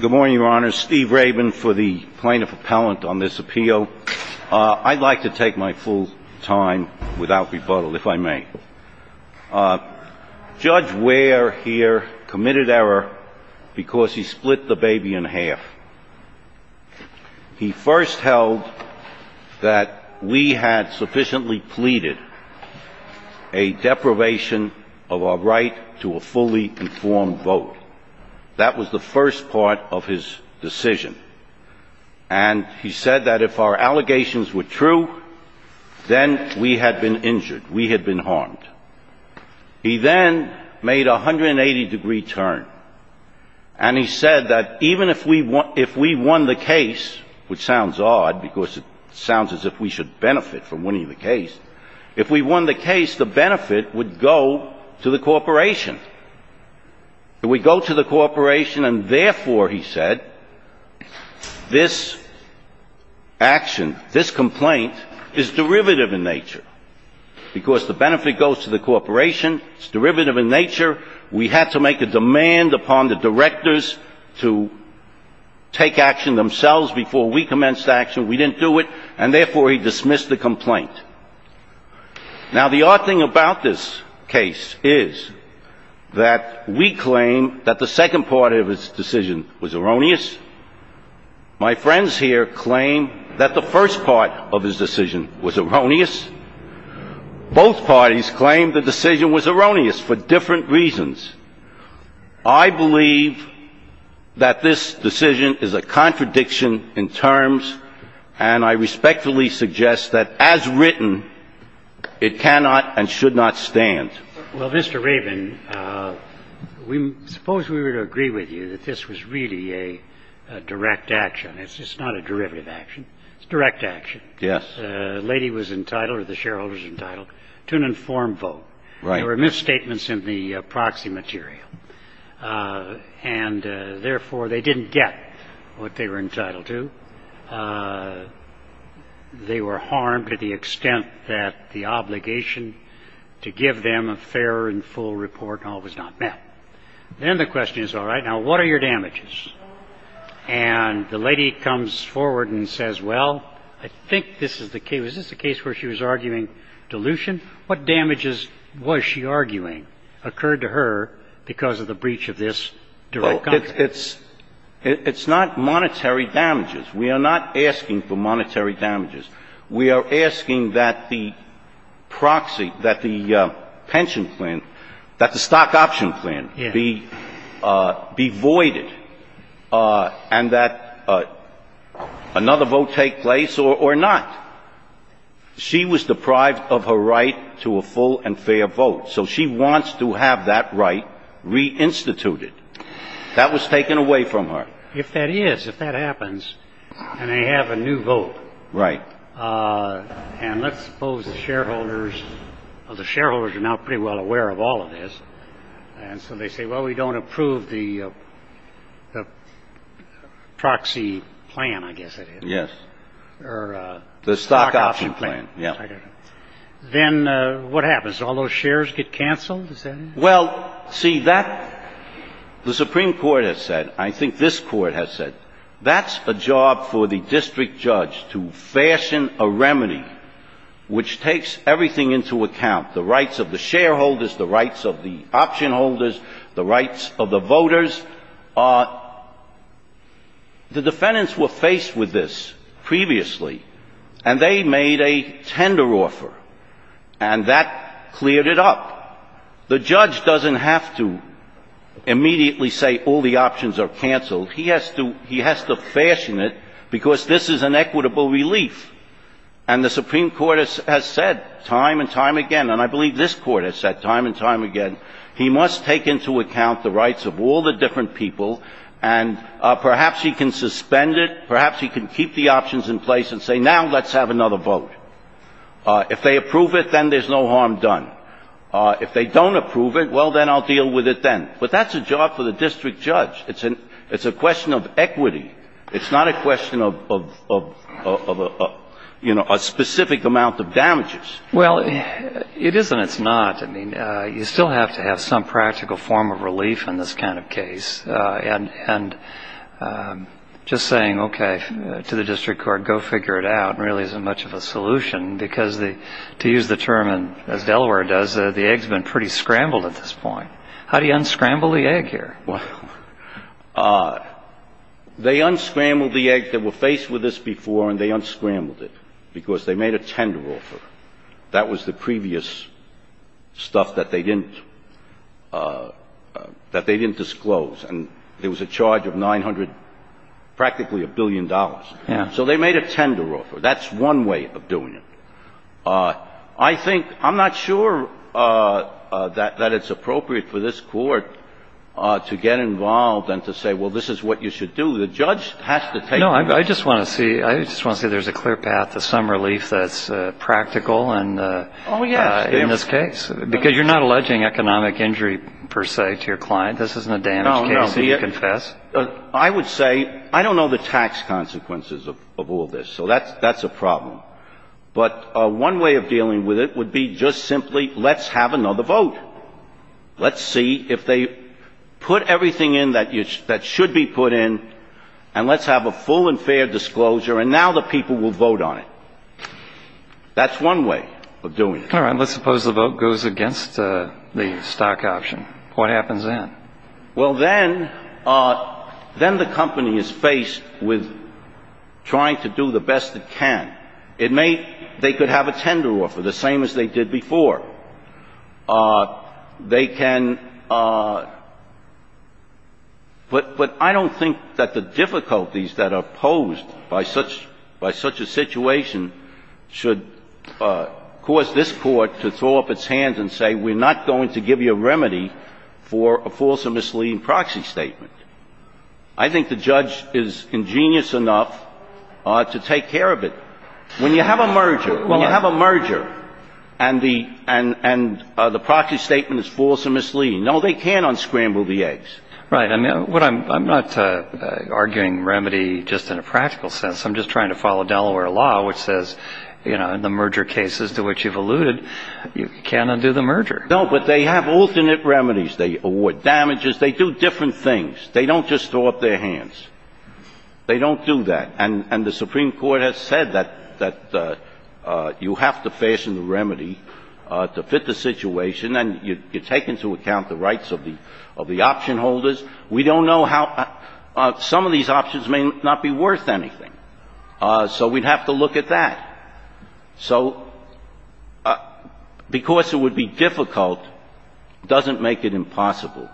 Good morning, Your Honor. Steve Rabin for the Plaintiff Appellant on this appeal. I'd like to take my full time without rebuttal, if I may. Judge Ware here committed error because he split the baby in half. He first held that we had sufficiently pleaded a deprivation of our right to a fully informed vote. That was the first part of his decision. And he said that if our allegations were true, then we had been injured, we had been harmed. He then made a 180 degree turn and he said that even if we won the case, which sounds odd because it sounds as if we should benefit from winning the case, if we won the case, the benefit would go to the corporation. It would go to the corporation and therefore, he said, this action, this complaint is derivative in nature. Because the benefit goes to the corporation, it's derivative in nature. We had to make a demand upon the directors to take action themselves before we commenced action. We didn't do it and therefore he dismissed the complaint. Now the odd thing about this case is that we claim that the second part of his decision was erroneous. My friends here claim that the first part of his decision was erroneous. Both parties claim the decision was erroneous for different reasons. I believe that this decision is a contradiction in terms and I respectfully suggest that as written, it cannot and should not stand. Well, Mr. Rabin, suppose we were to agree with you that this was really a direct action. It's just not a derivative action. It's direct action. Yes. The lady was entitled or the shareholder was entitled to an informed vote. Right. There were misstatements in the proxy material and therefore, they didn't get what they were entitled to. They were harmed to the extent that the obligation to give them a fair and full report was not met. Then the question is, all right, now what are your damages? And the lady comes forward and says, well, I think this is the case. Was this the case where she was arguing dilution? What damages was she arguing occurred to her because of the breach of this direct contract? It's not monetary damages. We are not asking for monetary damages. We are asking that the proxy, that the pension plan, that the stock option plan be voided and that another vote take place or not. She was deprived of her right to a full and fair vote. So she wants to have that right reinstituted. That was taken away from her. If that is, if that happens and they have a new vote. Right. And let's suppose the shareholders of the shareholders are now pretty well aware of all of this. And so they say, well, we don't approve the proxy plan, I guess. Yes. Or the stock option plan. Yeah. Then what happens? All those shares get canceled. Well, see, that, the Supreme Court has said, I think this Court has said, that's a job for the district judge to fashion a remedy which takes everything into account. The rights of the shareholders, the rights of the option holders, the rights of the voters are, the defendants were faced with this previously. And they made a tender offer. And that cleared it up. The judge doesn't have to immediately say all the options are canceled. He has to, he has to fashion it because this is an equitable relief. And the Supreme Court has said time and time again, and I believe this Court has said time and time again, he must take into account the rights of all the different people. And perhaps he can suspend it. Perhaps he can keep the options in place and say, now let's have another vote. If they approve it, then there's no harm done. If they don't approve it, well, then I'll deal with it then. But that's a job for the district judge. It's a question of equity. It's not a question of, you know, a specific amount of damages. Well, it is and it's not. I mean, you still have to have some practical form of relief in this kind of case. And just saying, okay, to the district court, go figure it out, really isn't much of a solution because to use the term, as Delaware does, the egg's been pretty scrambled at this point. How do you unscramble the egg here? Well, they unscrambled the egg. They were faced with this before and they unscrambled it because they made a tender offer. That was the previous stuff that they didn't disclose. And there was a charge of 900, practically a billion dollars. Yeah. So they made a tender offer. That's one way of doing it. I think — I'm not sure that it's appropriate for this Court to get involved and to say, well, this is what you should do. The judge has to take — No. I just want to see — I just want to see there's a clear path to some relief that's practical and — Oh, yes. — in this case. Because you're not alleging economic injury, per se, to your client. This isn't a damage case that you confess. I would say — I don't know the tax consequences of all this. So that's a problem. But one way of dealing with it would be just simply let's have another vote. Let's see if they put everything in that should be put in and let's have a full and fair disclosure. And now the people will vote on it. That's one way of doing it. All right. Let's suppose the vote goes against the stock option. What happens then? Well, then the company is faced with trying to do the best it can. It may — they could have a tender offer, the same as they did before. They can — but I don't think that the difficulties that are posed by such a situation should cause this Court to throw up its hands and say, we're not going to give you a remedy for a false or misleading proxy statement. I think the judge is ingenious enough to take care of it. When you have a merger — when you have a merger and the proxy statement is false or misleading, no, they can't unscramble the eggs. Right. I mean, what I'm — I'm not arguing remedy just in a practical sense. I'm just trying to follow Delaware law, which says, you know, in the merger cases to which you've alluded, you can't undo the merger. No, but they have alternate remedies. They award damages. They do different things. They don't just throw up their hands. They don't do that. And the Supreme Court has said that you have to fashion the remedy to fit the situation, and you take into account the rights of the option holders. We don't know how — some of these options may not be worth anything. So we'd have to look at that. So because it would be difficult doesn't make it impossible.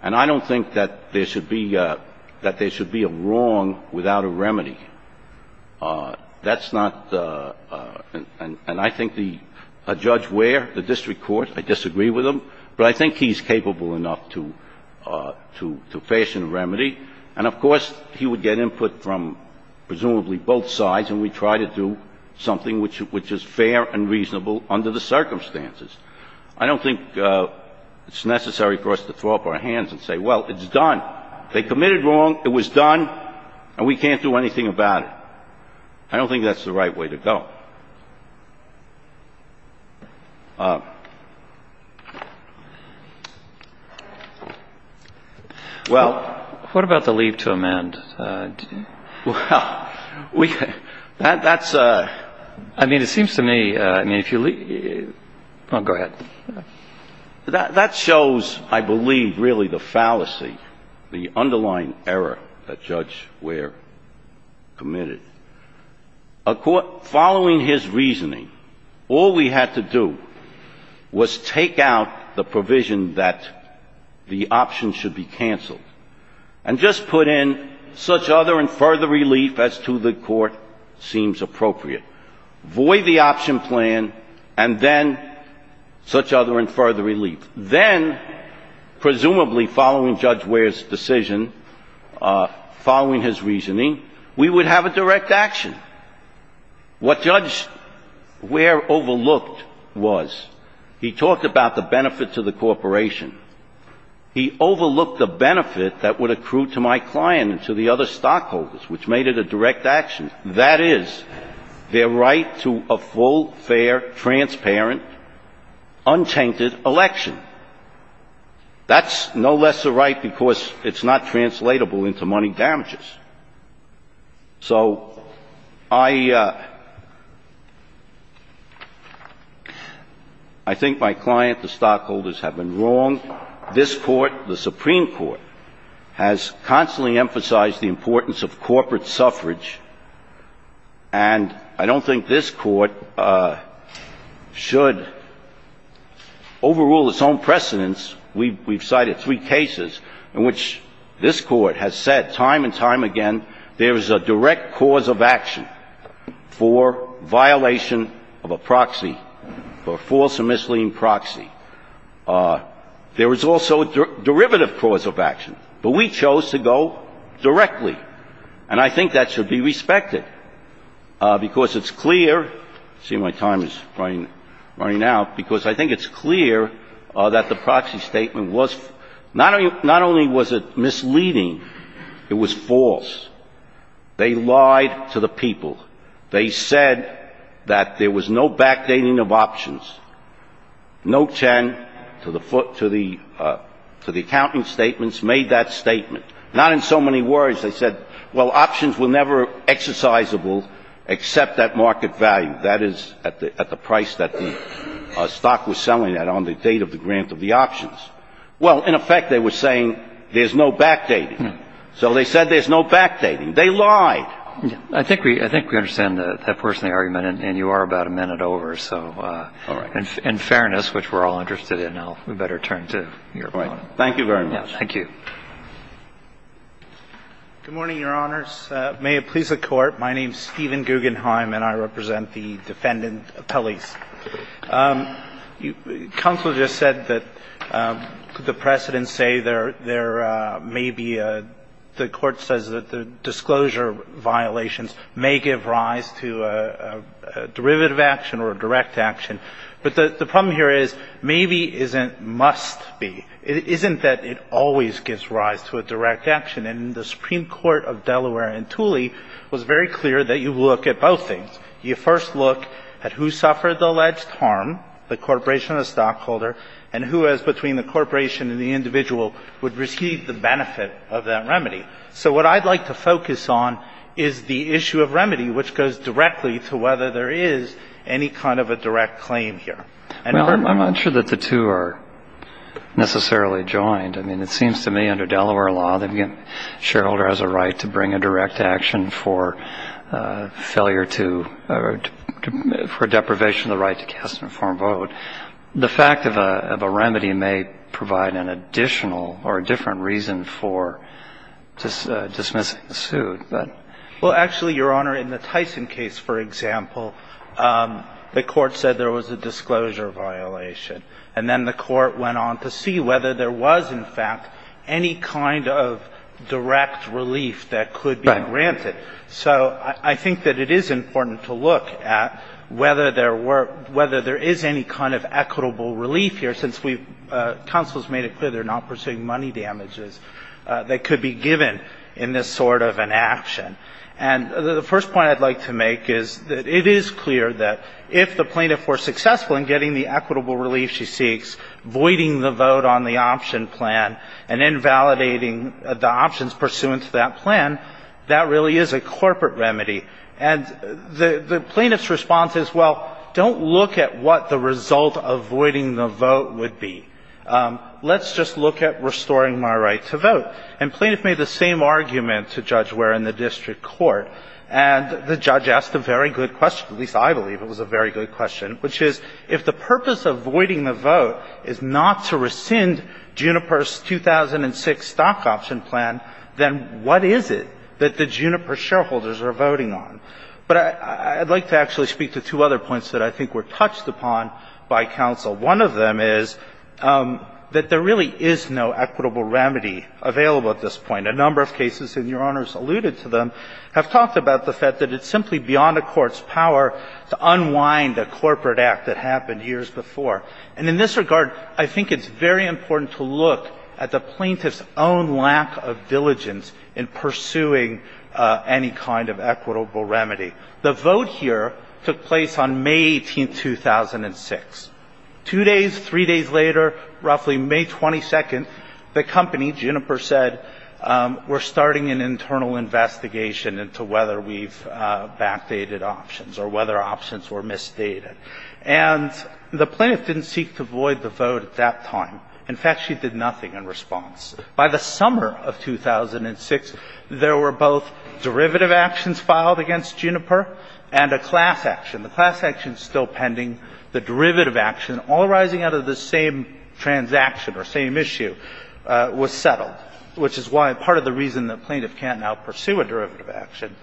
And I don't think that there should be — that there should be a wrong without a remedy. That's not — and I think the — a judge where? The district court. I disagree with him. But I think he's capable enough to — to fashion a remedy. And, of course, he would get input from presumably both sides, and we'd try to do something which is fair and reasonable under the circumstances. I don't think it's necessary for us to throw up our hands and say, well, it's done. They committed wrong, it was done, and we can't do anything about it. I don't think that's the right way to go. Well, what about the leave to amend? Well, we — that's — I mean, it seems to me — I mean, if you leave — oh, go ahead. That shows, I believe, really the fallacy, the underlying error that Judge Ware committed. A court — following his reasoning, all we had to do was take out the provision that the option should be canceled, and just put in such other and further relief as to the court seems appropriate. Void the option plan, and then such other and further relief. Then, presumably following Judge Ware's decision, following his reasoning, we would have a direct action. What Judge Ware overlooked was he talked about the benefit to the corporation. He overlooked the benefit that would accrue to my client and to the other stockholders, which made it a direct action. That is, their right to a full, fair, transparent, untainted election. That's no lesser right because it's not translatable into money damages. So I — I think my client, the stockholders, have been wrong. I think this Court, the Supreme Court, has constantly emphasized the importance of corporate suffrage. And I don't think this Court should overrule its own precedents. We've cited three cases in which this Court has said time and time again there is a direct cause of action for violation of a proxy, for a false or misleading proxy. There is also a derivative cause of action. But we chose to go directly. And I think that should be respected because it's clear — see, my time is running out — because I think it's clear that the proxy statement was — not only was it misleading, it was false. They lied to the people. They said that there was no backdating of options. Note 10 to the accounting statements made that statement. Not in so many words. They said, well, options were never exercisable except at market value. That is, at the price that the stock was selling at on the date of the grant of the options. Well, in effect, they were saying there's no backdating. So they said there's no backdating. They lied. I think we — I think we understand that personal argument, and you are about a minute over. So in fairness, which we're all interested in, we better turn to your point. Thank you very much. Thank you. Good morning, Your Honors. May it please the Court. My name is Stephen Guggenheim, and I represent the defendant appellees. Counsel just said that the precedent say there may be a — the Court says that the disclosure violations may give rise to a derivative action or a direct action. But the problem here is maybe isn't must be. It isn't that it always gives rise to a direct action. And the Supreme Court of Delaware in Tooley was very clear that you look at both things. You first look at who suffered the alleged harm, the corporation or the stockholder, and who has — between the corporation and the individual would receive the benefit of that remedy. So what I'd like to focus on is the issue of remedy, which goes directly to whether there is any kind of a direct claim here. Well, I'm not sure that the two are necessarily joined. I mean, it seems to me under Delaware law, the shareholder has a right to bring a direct action for failure to — for deprivation of the right to cast an informed vote. The fact of a remedy may provide an additional or a different reason for dismissing the suit, but — Well, actually, Your Honor, in the Tyson case, for example, the Court said there was a disclosure violation. And then the Court went on to see whether there was, in fact, any kind of direct relief that could be granted. Right. So I think that it is important to look at whether there were — whether there is any kind of equitable relief here, since we've — counsel has made it clear they're not pursuing money damages that could be given in this sort of an action. And the first point I'd like to make is that it is clear that if the plaintiff were successful in getting the equitable relief she seeks, voiding the vote on the option plan and invalidating the options pursuant to that plan, that really is a corporate remedy. And the plaintiff's response is, well, don't look at what the result of voiding the vote would be. Let's just look at restoring my right to vote. And plaintiff made the same argument to Judge Ware in the district court. And the judge asked a very good question, at least I believe it was a very good question, which is, if the purpose of voiding the vote is not to rescind Juniper's 2006 stock option plan, then what is it that the Juniper shareholders are voting on? But I'd like to actually speak to two other points that I think were touched upon by counsel. One of them is that there really is no equitable remedy available at this point. A number of cases, and Your Honors alluded to them, have talked about the fact that it's simply beyond a court's power to unwind a corporate act that happened years before. And in this regard, I think it's very important to look at the plaintiff's own lack of diligence in pursuing any kind of equitable remedy. The vote here took place on May 18, 2006. Two days, three days later, roughly May 22, the company, Juniper said, we're starting an internal investigation into whether we've backdated options or whether options were misstated. And the plaintiff didn't seek to void the vote at that time. In fact, she did nothing in response. By the summer of 2006, there were both derivative actions filed against Juniper and a class action. The class action is still pending. The derivative action, all rising out of the same transaction or same issue, was settled, which is why part of the reason the plaintiff can't now pursue a derivative action.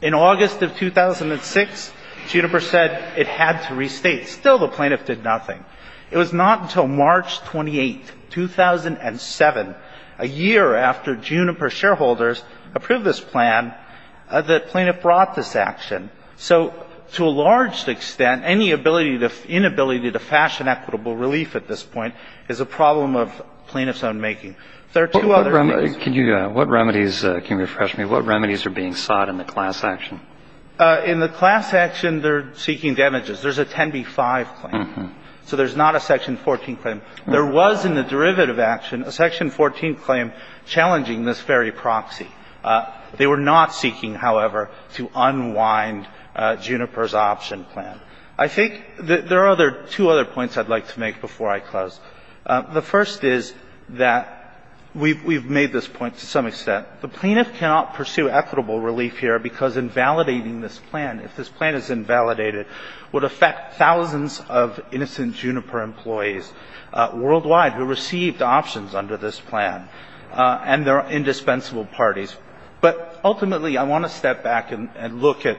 In August of 2006, Juniper said it had to restate. Still, the plaintiff did nothing. It was not until March 28, 2007, a year after Juniper shareholders approved this plan, that the plaintiff brought this action. So to a large extent, any inability to fashion equitable relief at this point is a problem of plaintiff's own making. There are two other things. What remedies are being sought in the class action? In the class action, they're seeking damages. There's a 10b-5 claim. So there's not a section 14 claim. There was, in the derivative action, a section 14 claim challenging this very proxy. They were not seeking, however, to unwind Juniper's option plan. I think there are two other points I'd like to make before I close. The first is that we've made this point to some extent. The plaintiff cannot pursue equitable relief here because invalidating this plan, if this plan is invalidated, would affect thousands of innocent Juniper employees worldwide who received options under this plan. And there are indispensable parties. But ultimately, I want to step back and look at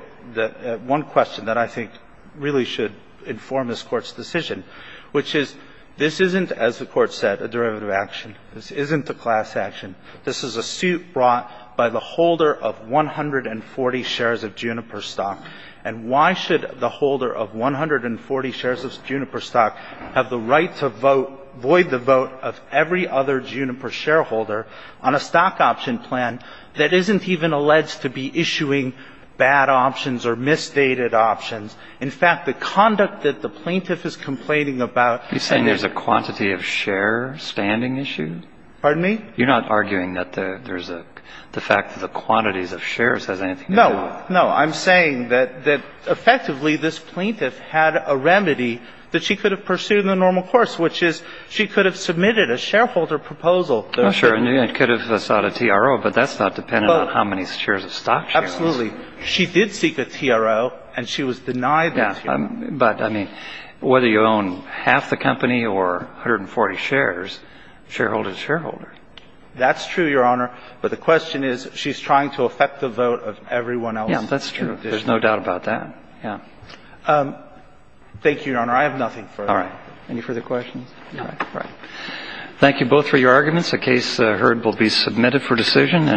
one question that I think really should inform this Court's decision, which is this isn't, as the Court said, a derivative action. This isn't a class action. This is a suit brought by the holder of 140 shares of Juniper stock. And why should the holder of 140 shares of Juniper stock have the right to vote, void the vote of every other Juniper shareholder on a stock option plan that isn't even alleged to be issuing bad options or misstated options? In fact, the conduct that the plaintiff is complaining about and the question that the plaintiff is asking is, well, if the plaintiff did seek a TRO, why would I mean, that's not a bargaining issue. Pardon me? You're not arguing that there's a — the fact that the quantities of shares has anything to do with it? No. No. I'm saying that effectively this plaintiff had a remedy that she could have pursued in a normal course, which is she could have submitted a shareholder proposal. Oh, sure. And then it could have sought a TRO. I mean, there's shareholder to shareholder. That's true, Your Honor. But the question is, she's trying to affect the vote of everyone else. Yeah, that's true. There's no doubt about that. Yeah. Thank you, Your Honor. I have nothing further. All right. Any further questions? No. All right. Thank you both for your arguments. The case heard will be submitted for decision.